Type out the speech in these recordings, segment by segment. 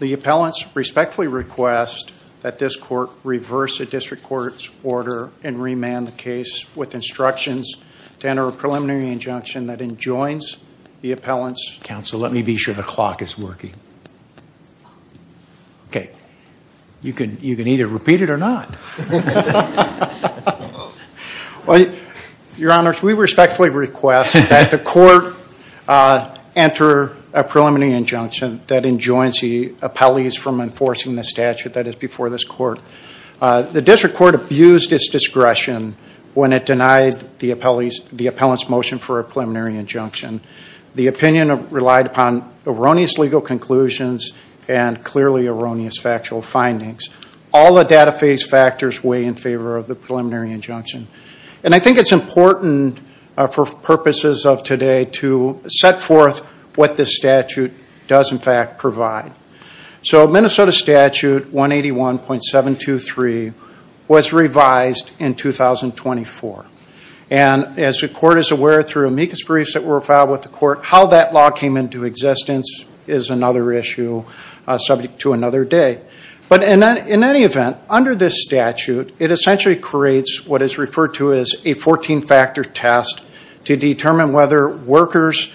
The appellants respectfully request that this court reverse a district court's order and remand the case with instructions to enter a preliminary injunction that enjoins the appellants. Counsel, let me be sure the clock is working. Okay, you can you can either repeat it or not. Well, your honors, we respectfully request that the court enter a preliminary injunction that enjoins the appellees from enforcing the statute that is before this court. The district court abused its discretion when it denied the appellant's motion for a preliminary injunction. The opinion relied upon erroneous legal conclusions and clearly erroneous factual findings. All the data phase factors weigh in favor of the preliminary injunction, and I think it's important for purposes of today to set forth what this statute does in fact provide. So Minnesota Statute 181.723 was revised in 2024, and as the court is aware through amicus briefs that were filed with the court, how that law came into existence is another issue subject to another day. But in any event, under this statute, it essentially creates what is referred to as a 14-factor test to determine whether workers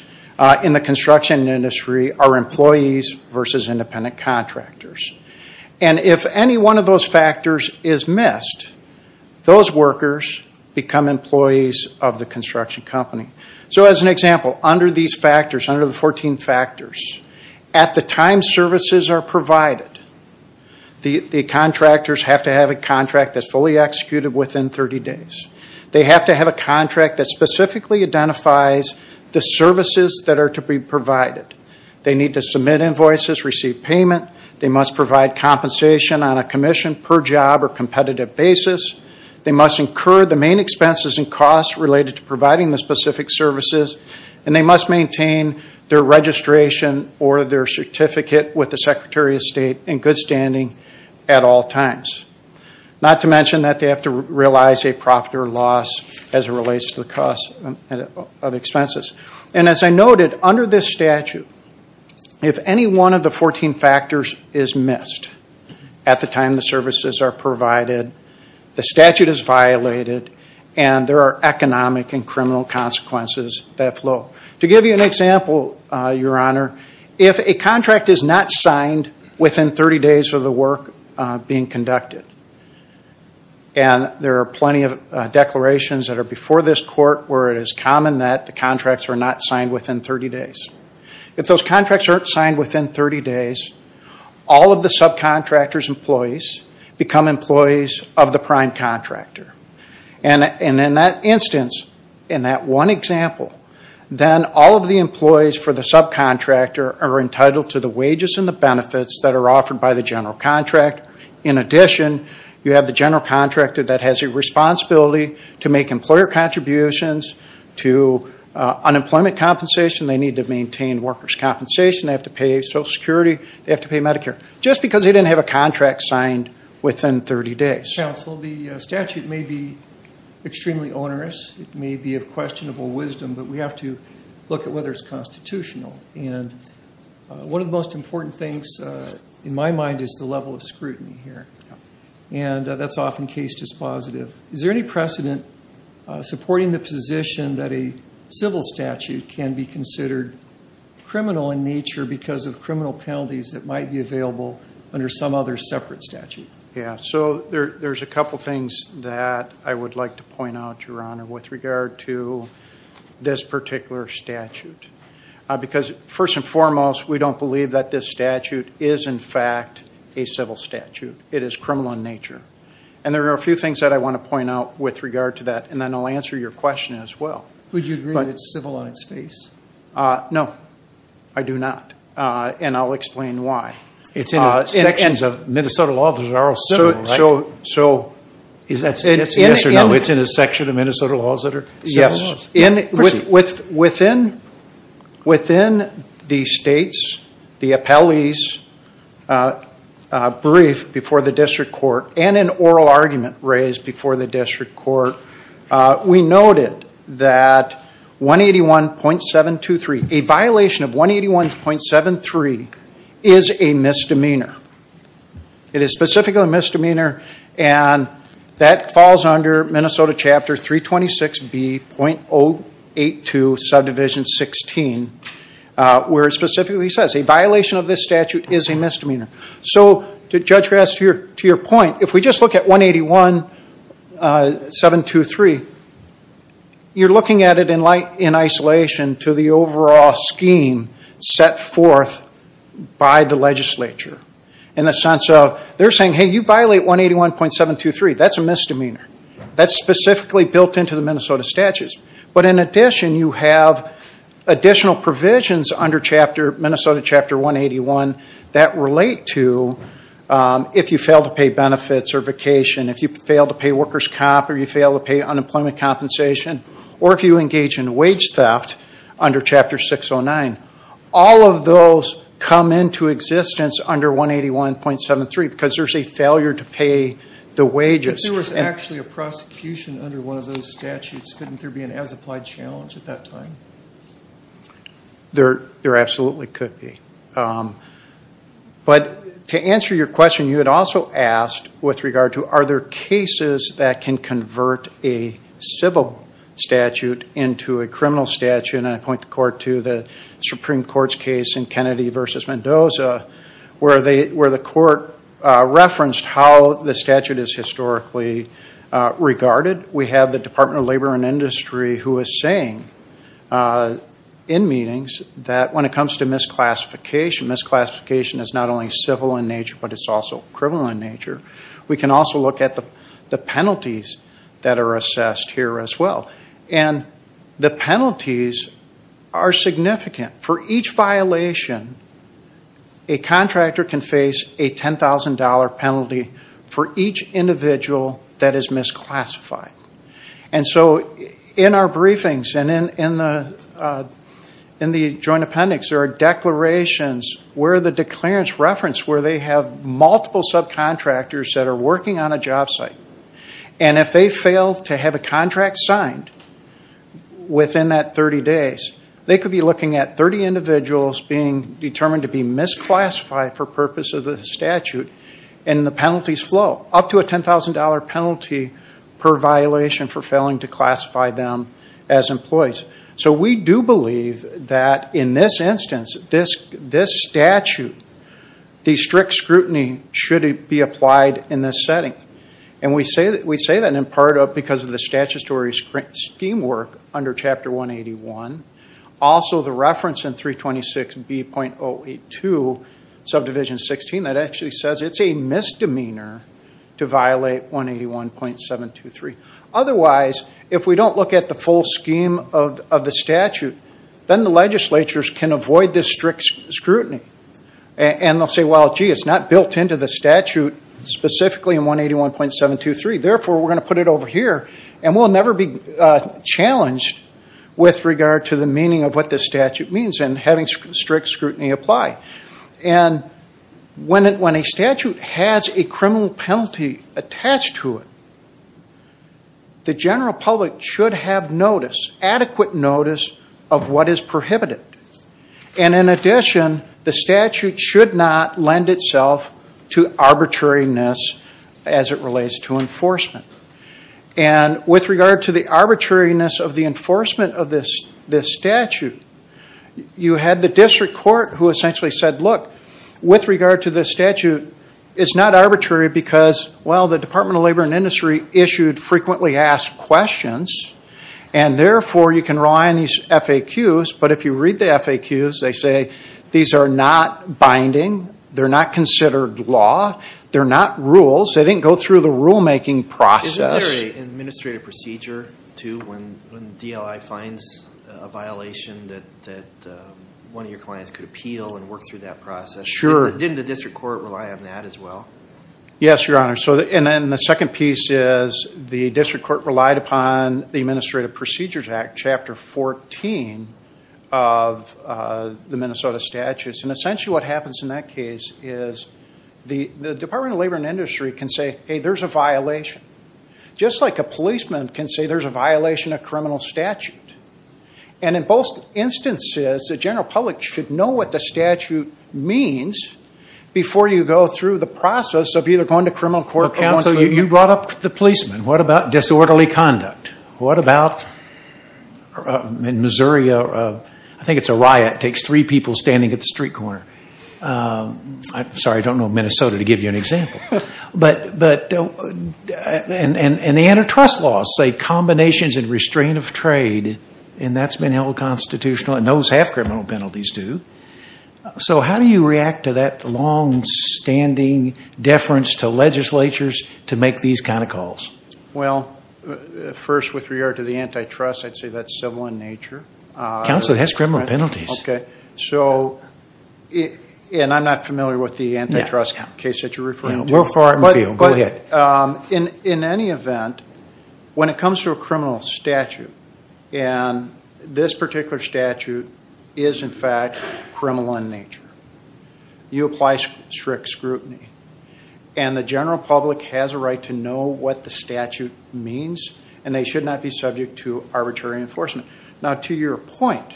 in the construction industry are employees versus independent contractors. And if any one of those factors is missed, those workers become employees of the construction company. So as an example, under these factors, under the 14 factors, at the time services are provided, the contractors have to have a contract that's fully executed within 30 days. They have to have a contract that specifically identifies the services that are to be provided. They need to submit invoices, receive payment. They must provide compensation on a commission per job or competitive basis. They must incur the main expenses and costs related to providing the specific services, and they must maintain their registration or their certificate with the Secretary of State in good standing at all times. Not to mention that they have to realize a profit or loss as it relates to the cost of expenses. And as I noted, under this statute, if any one of the 14 factors is missed at the time the services are provided, the statute is violated, and there are economic and criminal consequences that flow. To give you an example, Your Honor, if a contract is not signed within 30 days of the work being conducted, and there are plenty of declarations that are before this court where it is common that the contracts are not signed within 30 days. If those contracts aren't signed within 30 days, all of the subcontractors' employees become employees of the prime contractor. And in that instance, in that one example, then all of the employees for the subcontractor are entitled to the wages and the benefits that are offered by the general contract. In addition, you have the general contractor that has a responsibility to make employer contributions, to unemployment compensation, they need to maintain workers' compensation, they have to pay Social Security, they have to pay Medicare, just because they didn't have a contract signed within 30 days. Counsel, the statute may be extremely onerous, it may be of questionable wisdom, but we have to look at whether it's constitutional, and one of the most important things in my mind is the level of scrutiny here, and that's often case dispositive. Is there any precedent supporting the position that a civil statute can be considered criminal in nature because of criminal penalties that might be available under some other separate statute? Yeah, so there's a couple things that I would like to point out, Your Honor, with regard to this particular statute. Because first and foremost, we don't believe that this statute is in fact a civil statute. It is criminal in nature, and there are a few things that I want to point out with regard to that, and then I'll answer your question as well. Would you agree that it's civil on its face? No, I do not, and I'll explain why. It's in sections of Minnesota law that are all civil, right? So is that a yes or no? It's in a section of Minnesota laws that are civil? Yes, within within the state's, the appellee's brief before the district court, and an oral argument raised before the district court, we noted that 181.723, a violation of 181.723 is a misdemeanor. It is specifically a misdemeanor, and that falls under Minnesota Chapter 326B.082 Subdivision 16, where it specifically says, a violation of this statute is a misdemeanor. So, Judge Graf, to your point, if we just look at 181.723, you're looking at it in light, in isolation to the overall scheme set forth by the legislature. In the sense of, they're saying, hey, you violate 181.723. That's a misdemeanor. That's specifically built into the Minnesota statutes, but in addition, you have additional provisions under Chapter, Minnesota Chapter 181, that relate to if you fail to pay benefits or vacation, if you fail to pay workers' comp, or you fail to pay unemployment compensation, or if you engage in wage theft under Chapter 609. All of those come into existence under 181.723, because there's a failure to pay the wages. If there was actually a prosecution under one of those statutes, couldn't there be an as-applied challenge at that time? There absolutely could be. But to answer your question, you had also asked with regard to, are there cases that can convert a civil statute into a criminal statute, and I point the court to the Supreme Court's case in Kennedy v. Mendoza, where the court referenced how the statute is historically regarded. We have the Department of Labor and Industry, who is saying in meetings, that when it comes to misclassification, misclassification is not only civil in nature, but it's also criminal in nature. We can also look at the penalties that are assessed here as well, and the penalties are significant. For each violation, a contractor can face a $10,000 penalty for each individual that is misclassified. And so in our briefings and in the Joint Appendix, there are declarations where the declarants reference, where they have multiple subcontractors that are working on a job site, and if they fail to have a contract signed within that 30 days, they could be looking at 30 individuals being determined to be misclassified for purpose of the statute, and the penalties flow up to a $10,000 penalty per violation for failing to classify them as employees. So we do believe that in this instance, this statute, the strict scrutiny should be applied in this setting. And we say that we say that in part of because of the statutory scheme work under Chapter 181. Also, the reference in 326B.082 Subdivision 16, that actually says it's a misdemeanor to violate 181.723. Otherwise, if we don't look at the full scheme of the statute, then the legislatures can avoid this strict scrutiny, and they'll say, well, gee, it's not built into the statute specifically in 181.723. Therefore, we're going to put it over here, and we'll never be challenged with regard to the meaning of what this statute means and having strict scrutiny apply. And when a statute has a criminal penalty attached to it, the general public should have notice, adequate notice, of what is prohibited. And in addition, the statute should not lend itself to arbitrariness as it relates to enforcement. And with regard to the arbitrariness of the enforcement of this statute, you had the district court who essentially said, look, with regard to this statute, it's not arbitrary because, well, the Department of Labor and Industry issued frequently asked questions, and therefore, you can rely on these FAQs. But if you read the FAQs, they say these are not binding. They're not considered law. They're not rules. They didn't go through the rulemaking process. Isn't there an administrative procedure, too, when DLI finds a violation that one of your clients could appeal and work through that process? Sure. Didn't the district court rely on that as well? Yes, Your Honor. So, and then the second piece is the district court relied upon the Administrative Procedures Act, Chapter 14, of the Minnesota statutes. And essentially what happens in that case is the Department of Labor and Industry can say, hey, there's a violation. Just like a policeman can say there's a violation of criminal statute. And in both instances, the general public should know what the statute means before you go through the process of either going to criminal court. Counsel, you brought up the policeman. What about disorderly conduct? What about in Missouri, I think it's a riot. It takes three people standing at the street corner. Sorry, I don't know Minnesota to give you an example. But, and the antitrust laws say combinations and restraint of trade, and that's been held unconstitutional, and those have criminal penalties too. So, how do you react to that long-standing deference to legislatures to make these kind of calls? Well, first with regard to the antitrust, I'd say that's civil in nature. Counsel, it has criminal penalties. Okay, so, and I'm not familiar with the antitrust case that you're referring to. We're far out in the field. Go ahead. In any event, when it comes to a criminal statute, and this particular statute is, in fact, criminal in nature. You apply strict scrutiny, and the general public has a right to know what the statute means, and they should not be subject to arbitrary enforcement. Now, to your point,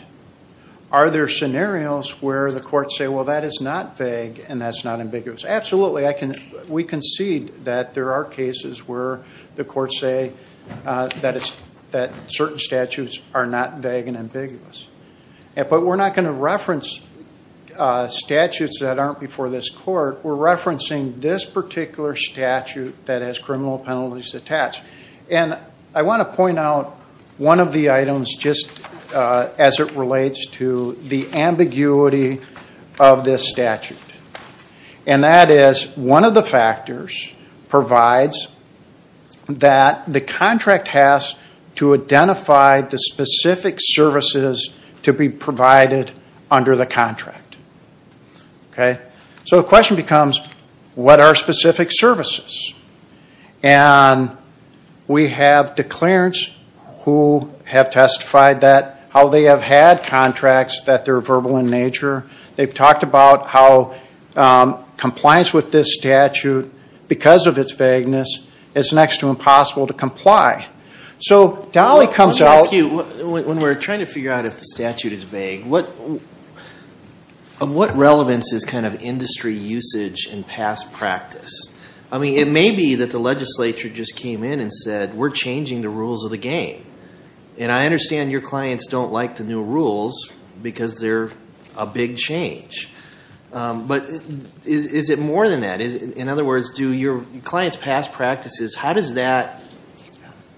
are there scenarios where the courts say, well, that is not vague, and that's not ambiguous. Absolutely. I can, we concede that there are cases where the courts say that it's, that certain statutes are not vague and ambiguous, but we're not going to reference statutes that aren't before this court. We're referencing this particular statute that has criminal penalties attached, and I want to point out one of the items just as it relates to the ambiguity of this statute, and that is, one of the factors provides that the contract has to identify the specific services to be provided under the contract. Okay, so the question becomes, what are specific services? We have declarants who have testified that, how they have had contracts, that they're verbal in nature. They've talked about how compliance with this statute, because of its vagueness, is next to impossible to comply. So, Dolly comes out. Let me ask you, when we're trying to figure out if the statute is vague, what relevance is kind of industry usage and past practice? I mean, it may be that the legislature just came in and said, we're changing the rules of the game, and I understand your clients don't like the new rules, because they're a big change. But, is it more than that? In other words, do your clients' past practices, how does that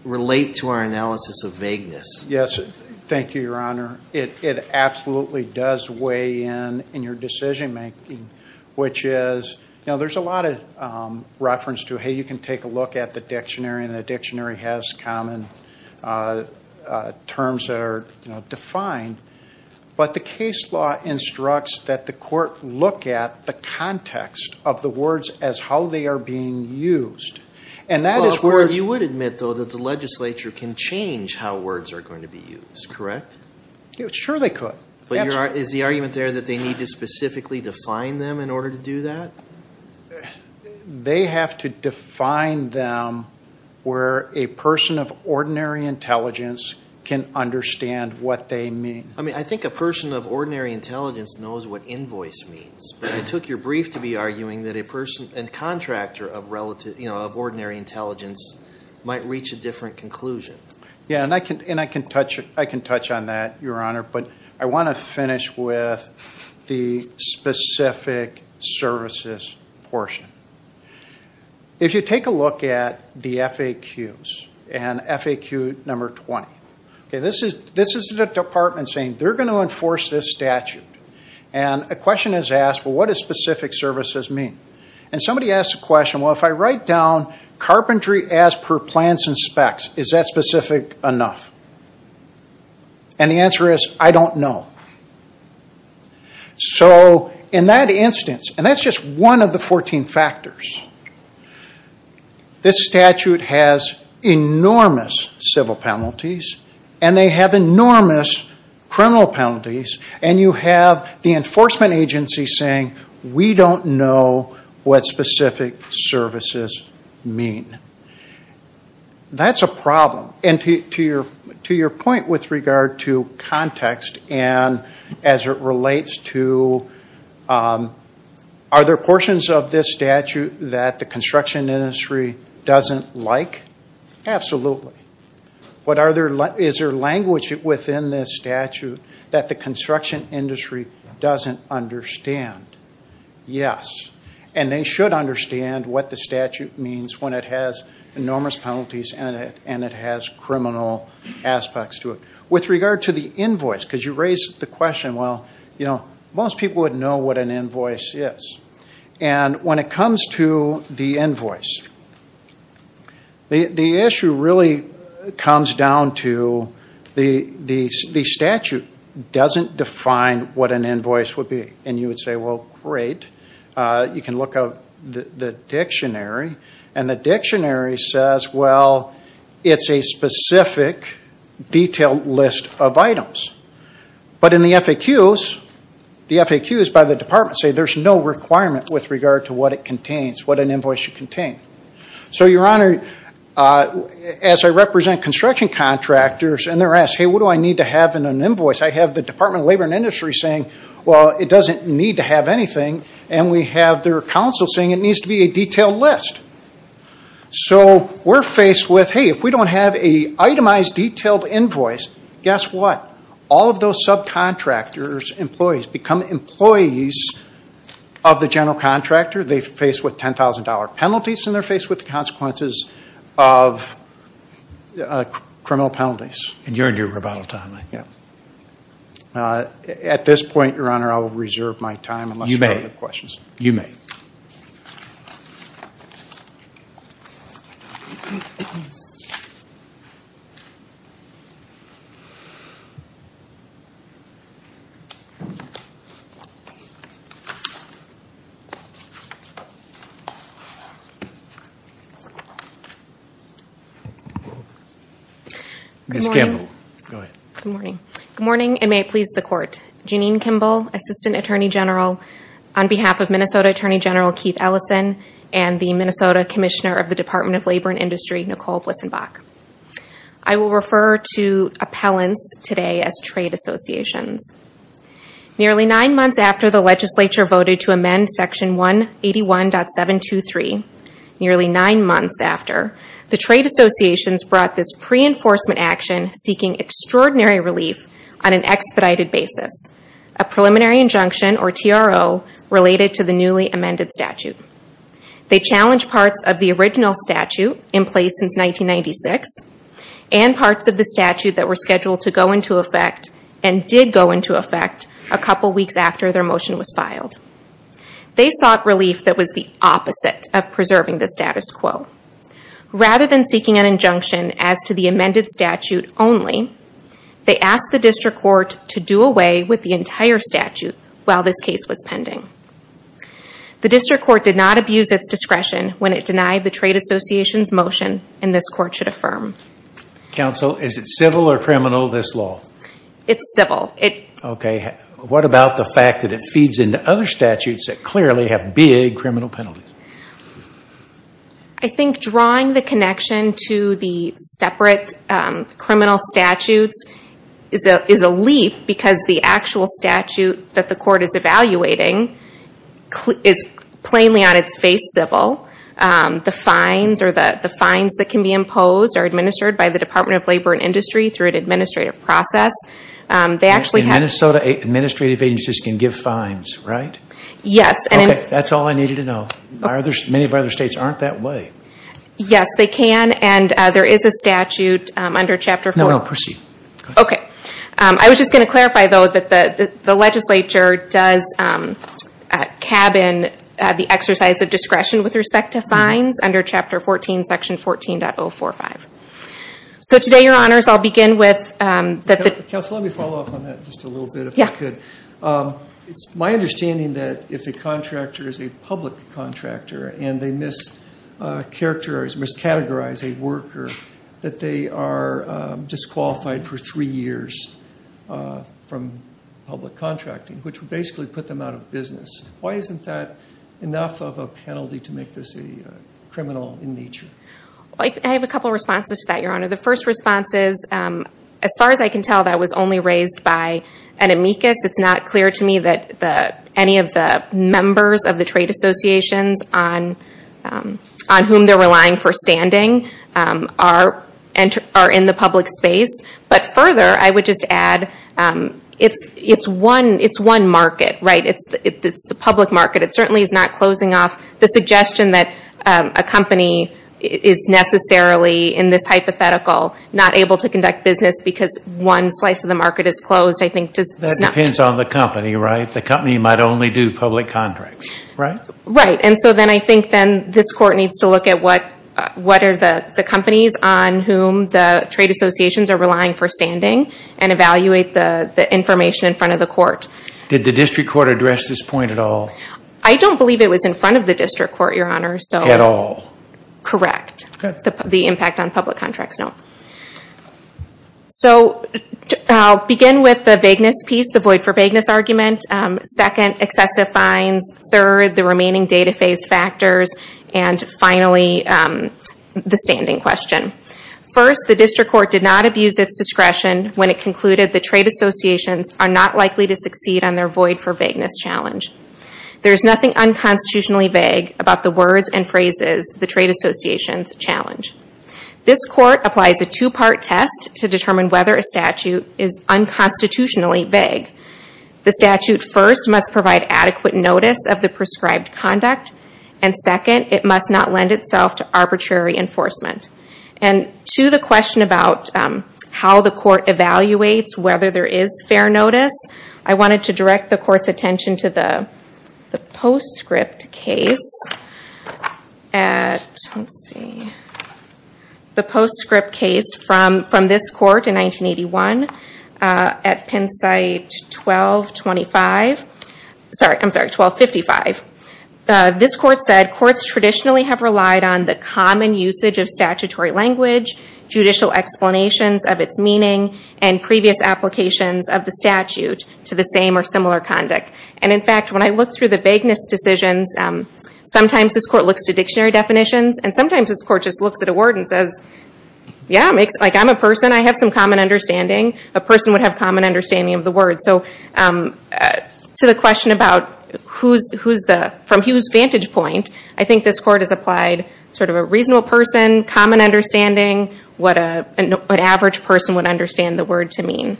relate to our analysis of vagueness? Yes, thank you, Your Honor. It absolutely does weigh in in your decision-making, which is, you know, there's a lot of reference to, hey, you can take a look at the dictionary, and the dictionary has common terms that are, you know, defined, but the case law instructs that the court look at the context of the words as how they are being used. And that is where you would admit, though, that the legislature can change how words are going to be used, correct? Sure, they could. But is the argument there that they need to specifically define them in order to do that? They have to define them where a person of ordinary intelligence can understand what they mean. I mean, I think a person of ordinary intelligence knows what invoice means, but it took your brief to be arguing that a person and contractor of relative, you know, of ordinary intelligence might reach a different conclusion. Yeah, and I can touch on that, Your Honor, but I want to finish with the specific services portion. If you take a look at the FAQs, and FAQ number 20, okay, this is the department saying they're going to enforce this statute, and a question is asked, well, what does specific services mean? And somebody asks a question, well, if I write down carpentry as per plans and specs, is that specific enough? And the answer is, I don't know. So in that instance, and that's just one of the 14 factors, this statute has enormous civil penalties, and they have enormous criminal penalties, and you have the enforcement agency saying, we don't know what specific services mean. That's a problem, and to your point with regard to context and as it relates to are there portions of this statute that the construction industry doesn't like? Absolutely. What are there, is there language within this statute that the construction industry doesn't understand? Yes, and they should understand what the statute means when it has enormous penalties in it, and it has criminal aspects to it. With regard to the invoice, because you raised the question, well, you know, most people would know what an invoice is, and when it comes to the invoice, the issue really comes down to, the statute doesn't define what an invoice would be, and you would say, well, great. You can look up the dictionary, and the dictionary says, well, it's a specific detailed list of items, but in the FAQs, the FAQs by the department say there's no requirement with regard to what it contains, what an invoice should contain. So your honor, as I represent construction contractors, and they're asked, hey, what do I need to have in an invoice? I have the Department of Labor and Industry saying, well, it doesn't need to have anything, and we have their counsel saying it needs to be a detailed list. So we're faced with, hey, if we don't have a itemized detailed invoice, guess what? All of those subcontractors, employees, become employees of the general contractor. They're faced with $10,000 penalties, and they're faced with the consequences of criminal penalties. And you're in your rebuttal time. Yeah. At this point, your honor, I will reserve my time. You may. Unless you have other questions. You may. Ms. Kimball, go ahead. Good morning. Good morning, and may it please the court. Janine Kimball, Assistant Attorney General, on behalf of Minnesota Attorney General Keith Ellison and the Minnesota Commissioner of the Department of Labor and Industry. Nicole Blissenbach. I will refer to appellants today as trade associations. Nearly nine months after the legislature voted to amend section 181.723, nearly nine months after, the trade associations brought this pre-enforcement action seeking extraordinary relief on an expedited basis. A preliminary injunction, or TRO, related to the newly amended statute. They challenged parts of the original statute, in place since 1996, and parts of the statute that were scheduled to go into effect, and did go into effect, a couple weeks after their motion was filed. They sought relief that was the opposite of preserving the status quo. Rather than seeking an injunction as to the amended statute only, they asked the district court to do away with the entire statute while this case was pending. The district court did not abuse its discretion when it denied the trade association's motion, and this court should affirm. Counsel, is it civil or criminal, this law? It's civil. Okay, what about the fact that it feeds into other statutes that clearly have big criminal penalties? I think drawing the connection to the separate criminal statutes is a leap, because the actual statute that the court is evaluating is plainly on its face civil. The fines that can be imposed are administered by the Department of Labor and Industry through an administrative process. In Minnesota, administrative agencies can give fines, right? Yes. Okay, that's all I needed to know. Many of our other states aren't that way. Yes, they can, and there is a statute under Chapter 4. I was just going to clarify, though, that the legislature does cabin the exercise of discretion with respect to fines under Chapter 14, Section 14.045. So today, your honors, I'll begin with that. Counsel, let me follow up on that just a little bit, if I could. It's my understanding that if a contractor is a public contractor, and they mischaracterize, miscategorize a worker, that they are disqualified for three years from public contracting, which would basically put them out of business. Why isn't that enough of a penalty to make this a criminal in nature? I have a couple responses to that, your honor. The first response is, as far as I can tell, that was only raised by an amicus. It's not clear to me that any of the members of the trade associations on whom they're relying for standing are in the public space. But further, I would just add, it's one market, right? It's the public market. It certainly is not closing off. The suggestion that a company is necessarily, in this hypothetical, not able to conduct business because one slice of the market is closed, I think does not... That depends on the company, right? The company might only do public contracts, right? Right, and so then I think then this court needs to look at what are the companies on whom the trade associations are relying for standing, and evaluate the information in front of the court. Did the district court address this point at all? I don't believe it was in front of the district court, your honor. At all? Correct. The impact on public contracts, no. So, I'll begin with the vagueness piece, the void for vagueness argument. Second, excessive fines. Third, the remaining data phase factors. And finally, the standing question. First, the district court did not abuse its discretion when it concluded the trade associations are not likely to succeed on their void for vagueness challenge. There is nothing unconstitutionally vague about the words and phrases the trade associations challenge. This court applies a two-part test to determine whether a statute is unconstitutionally vague. The statute first must provide adequate notice of the prescribed conduct, and second, it must not lend itself to arbitrary enforcement. And to the question about how the court evaluates whether there is fair notice, I wanted to direct the court's attention to the postscript case from this court in 1981. At Penn site 1225, sorry, I'm sorry, 1255. This court said courts traditionally have relied on the common usage of statutory language, judicial explanations of its meaning, and previous applications of the statute to the same or similar conduct. And in fact, when I look through the vagueness decisions, sometimes this court looks to dictionary definitions, and sometimes this court just looks at a word and says, yeah, like I'm a person. I have some common understanding. A person would have common understanding of the word. So to the question about who's the, from who's vantage point, I think this court has applied sort of a reasonable person, common understanding, what an average person would understand the word to mean.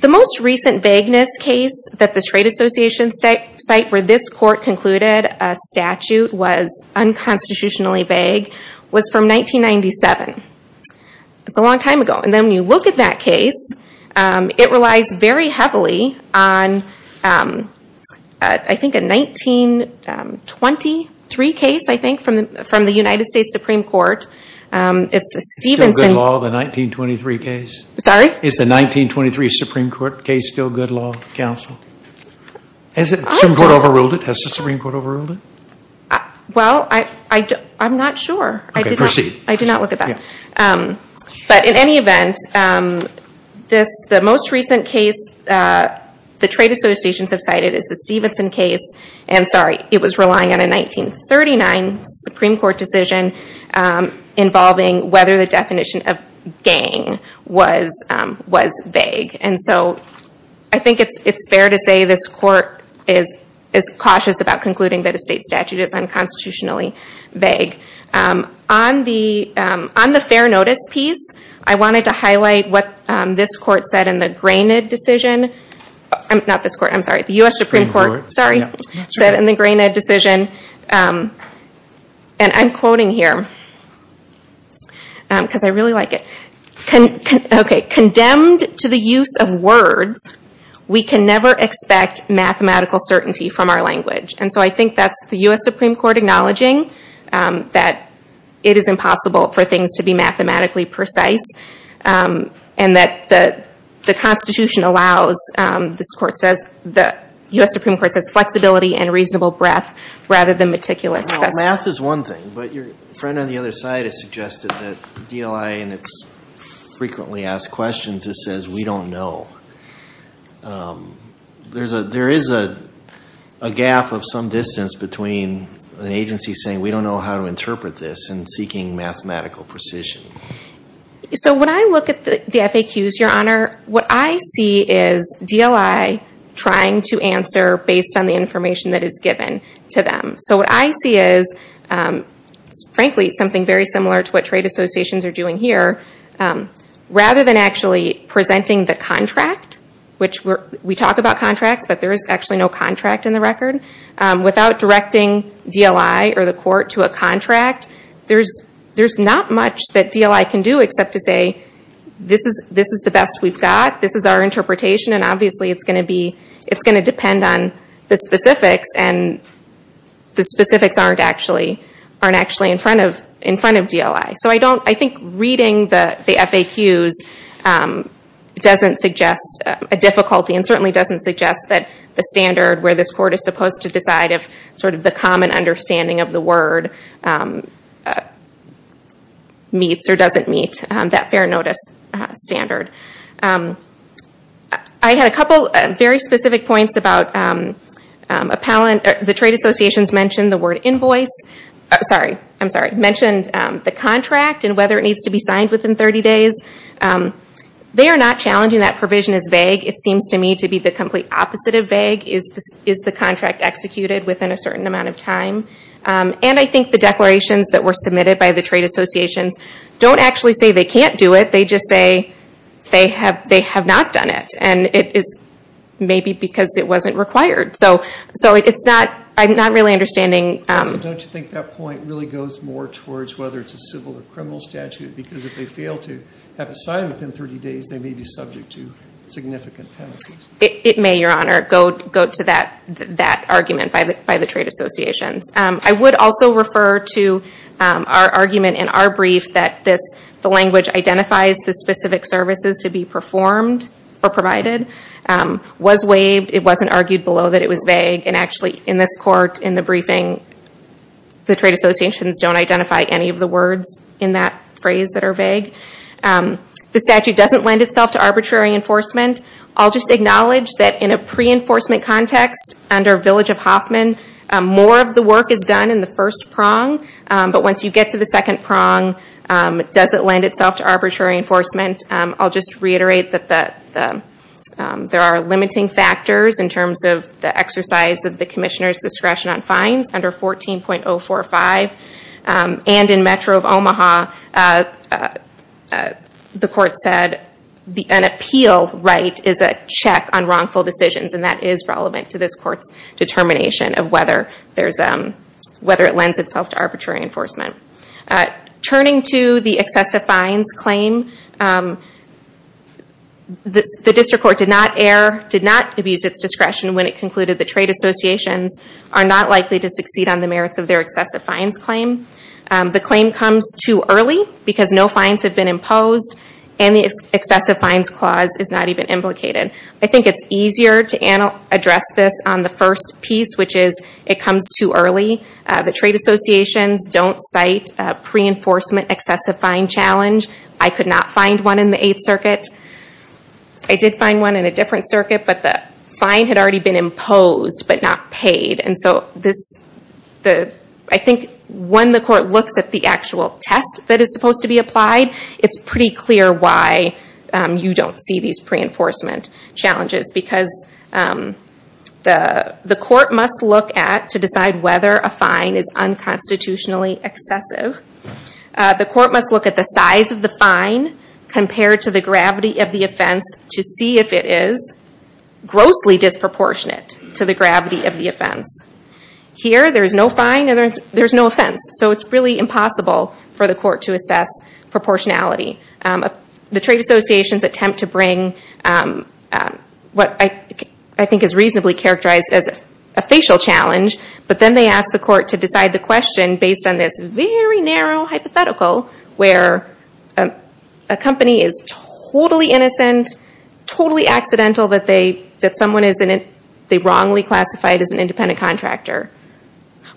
The most recent vagueness case that the trade associations cite where this court concluded a statute was unconstitutionally vague was from 1997. It's a long time ago. And then when you look at that case, it relies very heavily on I think a 1923 case, I think, from the United States Supreme Court. It's a Stevenson. Is the 1923 Supreme Court case still good law, counsel? Has the Supreme Court overruled it? Well, I'm not sure. I did not look at that. But in any event, this, the most recent case the trade associations have cited is the Stevenson case. And sorry, it was relying on a 1939 Supreme Court decision involving whether the definition of gang was was vague. And so I think it's it's fair to say this court is cautious about concluding that a state statute is unconstitutionally vague. On the on the fair notice piece, I wanted to highlight what this court said in the Grainid decision. I'm not this court. I'm sorry, the US Supreme Court. Sorry, said in the Grainid decision. And I'm quoting here because I really like it. Okay, condemned to the use of words, we can never expect mathematical certainty from our language. And so I think that's the US Supreme Court acknowledging that it is impossible for things to be mathematically precise. And that the the Constitution allows, this court says, the US Supreme Court says flexibility and reasonable breath rather than meticulous. Math is one thing, but your friend on the other side has suggested that DLIA and its frequently asked questions, it says we don't know. There's a there is a gap of some distance between an agency saying we don't know how to interpret this and seeking mathematical precision. So when I look at the FAQs, Your Honor, what I see is DLIA trying to answer based on the information that is given to them. So what I see is frankly, something very similar to what trade associations are doing here. Rather than actually presenting the contract, which we talk about contracts, but there is actually no contract in the record, without directing DLIA or the court to a contract, there's not much that DLIA can do except to say this is the best we've got, this is our interpretation, and obviously it's going to be it's going to depend on the specifics and the specifics aren't actually in front of DLIA. So I don't I think reading the FAQs doesn't suggest a difficulty and certainly doesn't suggest that the standard where this court is supposed to decide if sort of the common understanding of the word meets or doesn't meet that fair notice standard. I had a couple very specific points about the trade associations mentioned the word invoice. Sorry, I'm sorry, mentioned the contract and whether it needs to be signed within 30 days. They are not challenging that provision as vague. It seems to me to be the complete opposite of vague. Is the contract executed within a certain amount of time? And I think the declarations that were submitted by the trade associations don't actually say they can't do it. They just say they have not done it and it is maybe because it wasn't required. So it's not, I'm not really understanding. Don't you think that point really goes more towards whether it's a civil or criminal statute because if they fail to have a sign within 30 days, they may be subject to significant penalties. It may, Your Honor, go to that argument by the trade associations. I would also refer to our argument in our brief that this the language identifies the specific services to be performed or provided. It was waived. It wasn't argued below that it was vague and actually in this court, in the briefing, the trade associations don't identify any of the words in that phrase that are vague. The statute doesn't lend itself to arbitrary enforcement. I'll just acknowledge that in a pre-enforcement context under Village of Hoffman, more of the work is done in the first prong. But once you get to the second prong, it doesn't lend itself to arbitrary enforcement. I'll just reiterate that there are limiting factors in terms of the exercise of the Commissioner's discretion on fines under 14.045. And in Metro of Omaha, the court said an appeal right is a check on wrongful decisions and that is relevant to this court's determination of whether there's a, whether it lends itself to arbitrary enforcement. Turning to the excessive fines claim, the district court did not err, did not abuse its discretion when it concluded the trade associations are not likely to succeed on the merits of their excessive fines claim. The claim comes too early because no fines have been imposed and the excessive fines clause is not even implicated. I think it's easier to address this on the first piece, which is it comes too early. The trade associations don't cite pre-enforcement excessive fine challenge. I could not find one in the Eighth Circuit. I did find one in a different circuit, but the fine had already been imposed, but not paid. And so this, the, I think when the court looks at the actual test that is supposed to be applied, it's pretty clear why you don't see these pre-enforcement challenges because the, the court must look at to decide whether a fine is unconstitutionally excessive. The court must look at the size of the fine compared to the gravity of the offense to see if it is grossly disproportionate to the gravity of the offense. Here, there is no fine and there's no offense. So it's really impossible for the court to assess proportionality. The trade associations attempt to bring what I think is reasonably characterized as a facial challenge, but then they ask the court to decide the question based on this very narrow hypothetical where a company is totally innocent, totally accidental that they, that someone is in it, they wrongly classified as an independent contractor.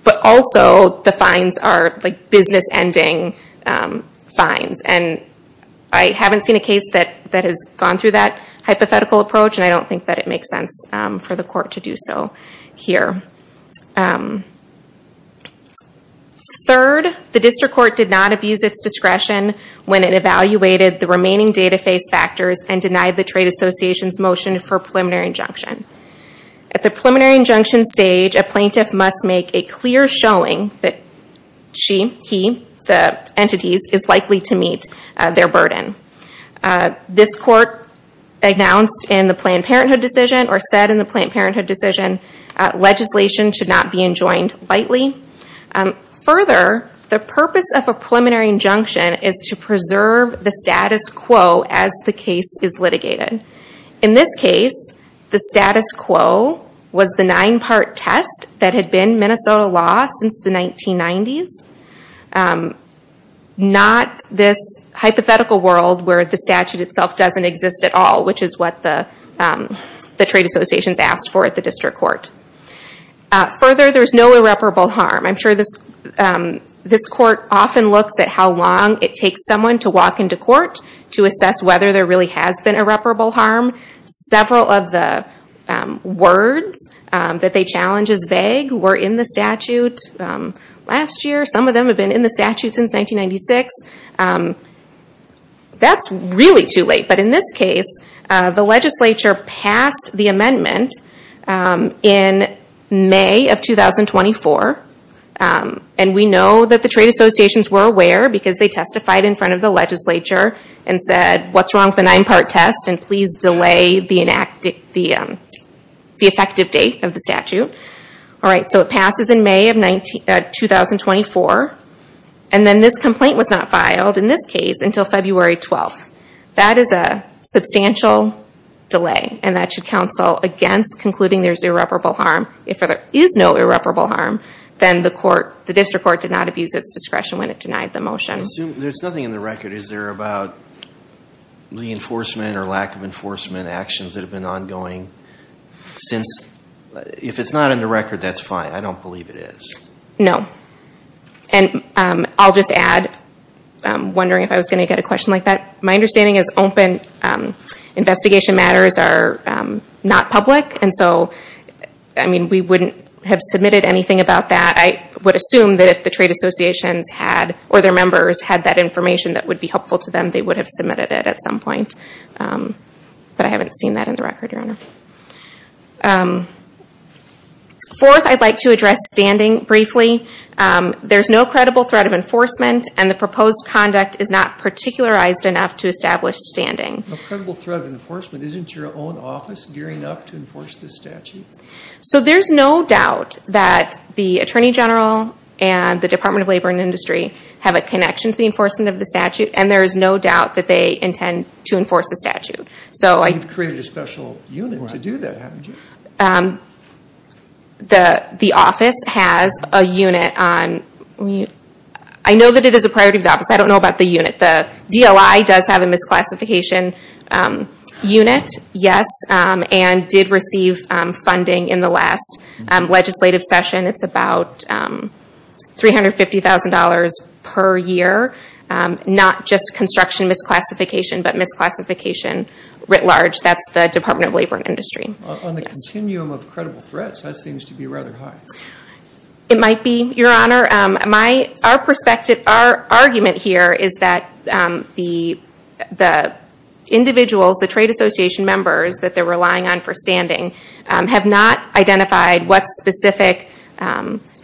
But also the fines are like business-ending fines and I haven't seen a case that that has gone through that hypothetical approach and I don't think that it makes sense for the court to do so here. Third, the district court did not abuse its discretion when it evaluated the remaining data face factors and denied the trade association's motion for preliminary injunction. At the preliminary injunction stage, a plaintiff must make a clear showing that she, he, the entities is likely to meet their burden. This court announced in the Planned Parenthood decision or said in the Planned Parenthood decision legislation should not be enjoined lightly. Further, the purpose of a preliminary injunction is to preserve the status quo as the case is litigated. In this case, the status quo was the nine-part test that had been Minnesota law since the 1990s. Not this hypothetical world where the statute itself doesn't exist at all, which is what the the trade associations asked for at the district court. Further, there's no irreparable harm. I'm sure this this court often looks at how long it takes someone to walk into court to assess whether there really has been irreparable harm. Several of the words that they challenge as vague were in the statute last year. Some of them have been in the statute since 1996. That's really too late, but in this case the legislature passed the amendment in May of 2024. And we know that the trade associations were aware because they testified in front of the legislature and said what's wrong with the nine-part test and please delay the effective date of the statute. All right, so it passes in May of 2024 and then this complaint was not filed in this case until February 12th. That is a substantial delay and that should counsel against concluding there's irreparable harm. If there is no irreparable harm then the court, the district court, did not abuse its discretion when it denied the motion. There's nothing in the record. Is there about reinforcement or lack of enforcement actions that have been ongoing since If it's not in the record, that's fine. I don't believe it is. No, and I'll just add wondering if I was going to get a question like that. My understanding is open investigation matters are not public and so I mean we wouldn't have submitted anything about that. I would assume that if the trade associations had or their members had that information that would be helpful to them they would have submitted it at some point. But I haven't seen that in the record, Your Honor. Fourth, I'd like to address standing briefly. There's no credible threat of enforcement and the proposed conduct is not particularized enough to establish standing. A credible threat of enforcement isn't your own office gearing up to enforce this statute? So there's no doubt that the Attorney General and the Department of Labor and Industry have a connection to the enforcement of the statute and there is no doubt that they intend to enforce the statute. You've created a special unit to do that, haven't you? The the office has a unit on, I know that it is a priority of the office, I don't know about the unit. The DLI does have a misclassification unit, yes, and did receive funding in the last legislative session. It's about $350,000 per year. Not just construction misclassification, but misclassification writ large. That's the Department of Labor and Industry. On the continuum of credible threats, that seems to be rather high. It might be, Your Honor. Our perspective, our argument here is that the individuals, the Trade Association members that they're relying on for standing have not identified what specific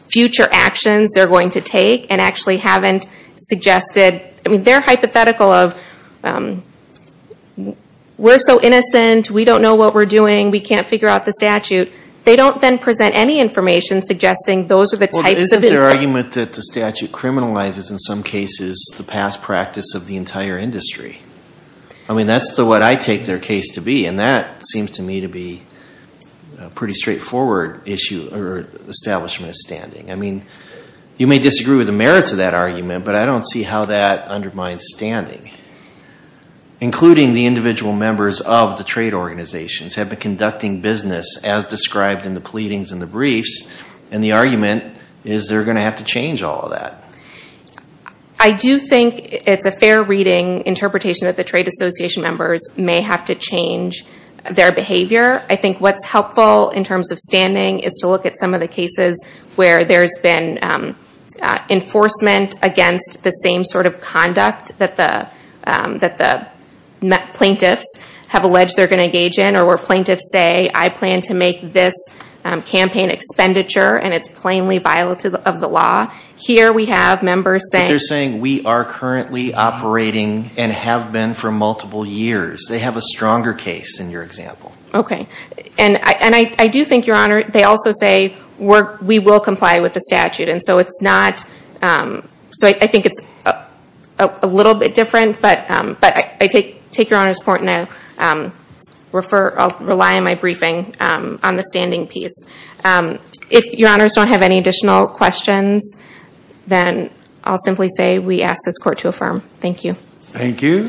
future actions they're going to take and actually haven't suggested, I mean they're hypothetical of we're so innocent, we don't know what we're doing, we can't figure out the statute. They don't then present any information suggesting those are the types of... Well, isn't their argument that the statute criminalizes in some cases the past practice of the entire industry? I mean, that's what I take their case to be and that seems to me to be a pretty straightforward issue or establishment of standing. I mean, you may disagree with the merits of that argument, but I don't see how that undermines standing. Including the individual members of the trade organizations have been conducting business as described in the pleadings and the briefs and the argument is they're going to have to change all of that. I do think it's a fair reading interpretation that the Trade Association members may have to change their behavior. I think what's helpful in terms of standing is to look at some of the cases where there's been enforcement against the same sort of conduct that the plaintiffs have alleged they're going to engage in or where plaintiffs say, I plan to make this campaign expenditure and it's plainly violative of the law. Here we have members saying... They're saying we are currently operating and have been for multiple years. They have a stronger case in your example. Okay, and I do think, Your Honor, they also say we will comply with the statute and so it's not... So I think it's a little bit different, but I take Your Honor's point and I'll rely on my briefing on the standing piece. If Your Honors don't have any additional questions, then I'll simply say we ask this court to affirm. Thank you. Thank you,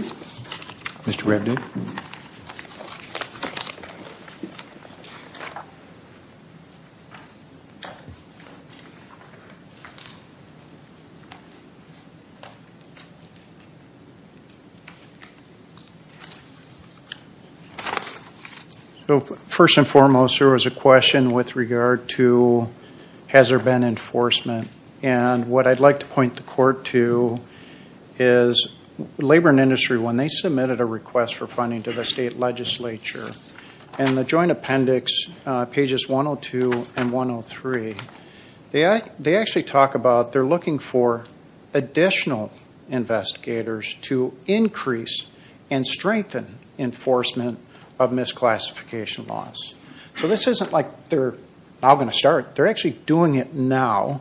Mr. Redding. First and foremost, there was a question with regard to has there been enforcement, and what I'd like to point the court to is labor and industry when they submitted a request for funding to the state legislature and the joint appendix pages 102 and 103 they actually talk about they're looking for additional investigators to increase and strengthen enforcement of misclassification laws. So this isn't like they're now going to start. They're actually doing it now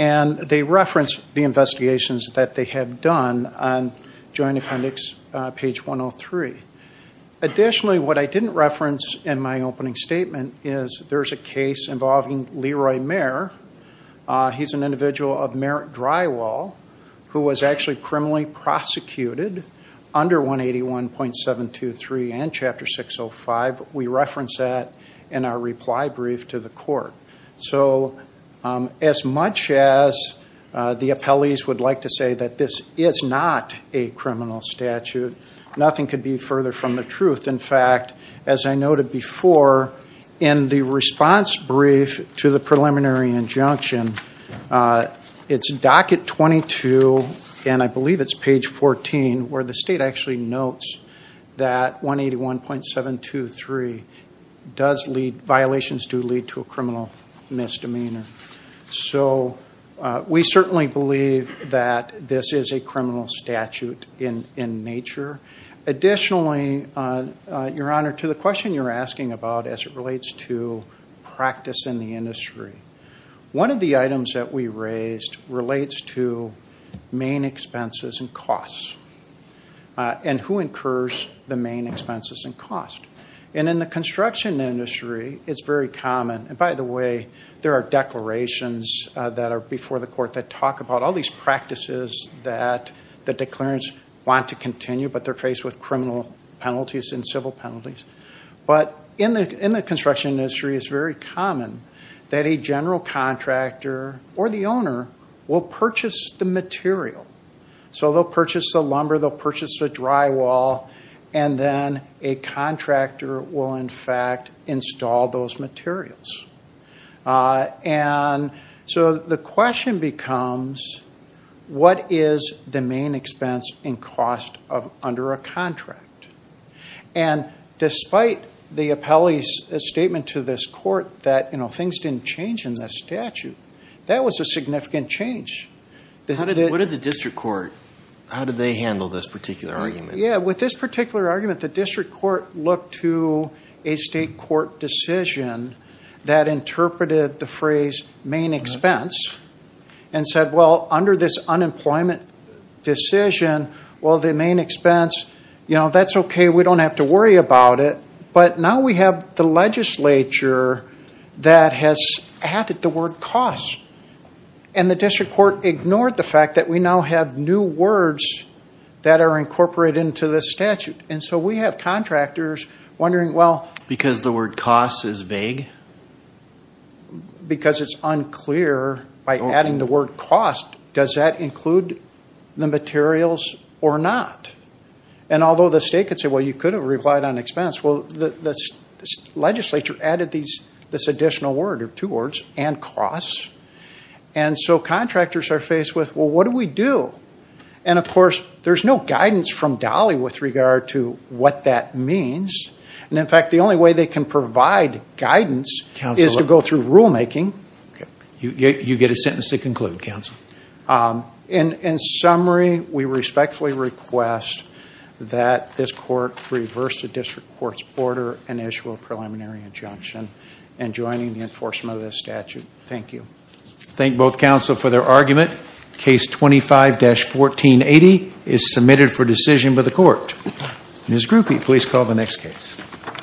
and they reference the investigations that they have done on joint appendix page 103. Additionally, what I didn't reference in my opening statement is there's a case involving Leroy Mayer. He's an individual of Merritt Drywall who was actually criminally prosecuted under 181.723 and Chapter 605. We reference that in our reply brief to the court. So as much as the appellees would like to say that this is not a criminal statute, nothing could be further from the truth. In fact, as I noted before, in the response brief to the preliminary injunction, it's docket 22, and I believe it's page 14 where the state actually notes that 181.723 does lead violations to lead to a criminal misdemeanor. So we certainly believe that this is a criminal statute in in nature. Your Honor, to the question you're asking about as it relates to practice in the industry, one of the items that we raised relates to main expenses and costs and who incurs the main expenses and costs. And in the construction industry, it's very common, and by the way, there are declarations that are before the court that talk about all these practices that the declarants want to continue, but they're faced with criminal penalties and civil penalties. But in the in the construction industry, it's very common that a general contractor or the owner will purchase the material. So they'll purchase the lumber, they'll purchase the drywall, and then a contractor will in fact install those materials. And so the question becomes what is the main expense and cost of under a contract? And despite the appellee's statement to this court that, you know, things didn't change in this statute, that was a significant change. What did the district court, how did they handle this particular argument? Yeah, with this particular argument, the district court looked to a state court decision that interpreted the phrase main expense and said, well, under this unemployment decision, well, the main expense, you know, that's okay. We don't have to worry about it. But now we have the legislature that has added the word cost, and the district court ignored the fact that we now have new words that are incorporated into this statute. And so we have contractors wondering, well, because the word cost is vague, because it's unclear by adding the word cost, does that include the materials or not? And although the state could say, well, you could have relied on expense, well, the legislature added this additional word, or two words, and cost. And so contractors are faced with, well, what do we do? And of course, there's no guidance from Dolly with regard to what that means. And in fact, the only way they can provide guidance is to go through rulemaking. You get a sentence to conclude, counsel. In summary, we respectfully request that this court reverse the district court's order and issue a preliminary injunction in adjoining the enforcement of this statute. Thank you. Thank both counsel for their argument. Case 25-1480 is submitted for decision by the court. Ms. Grupe, please call the next case.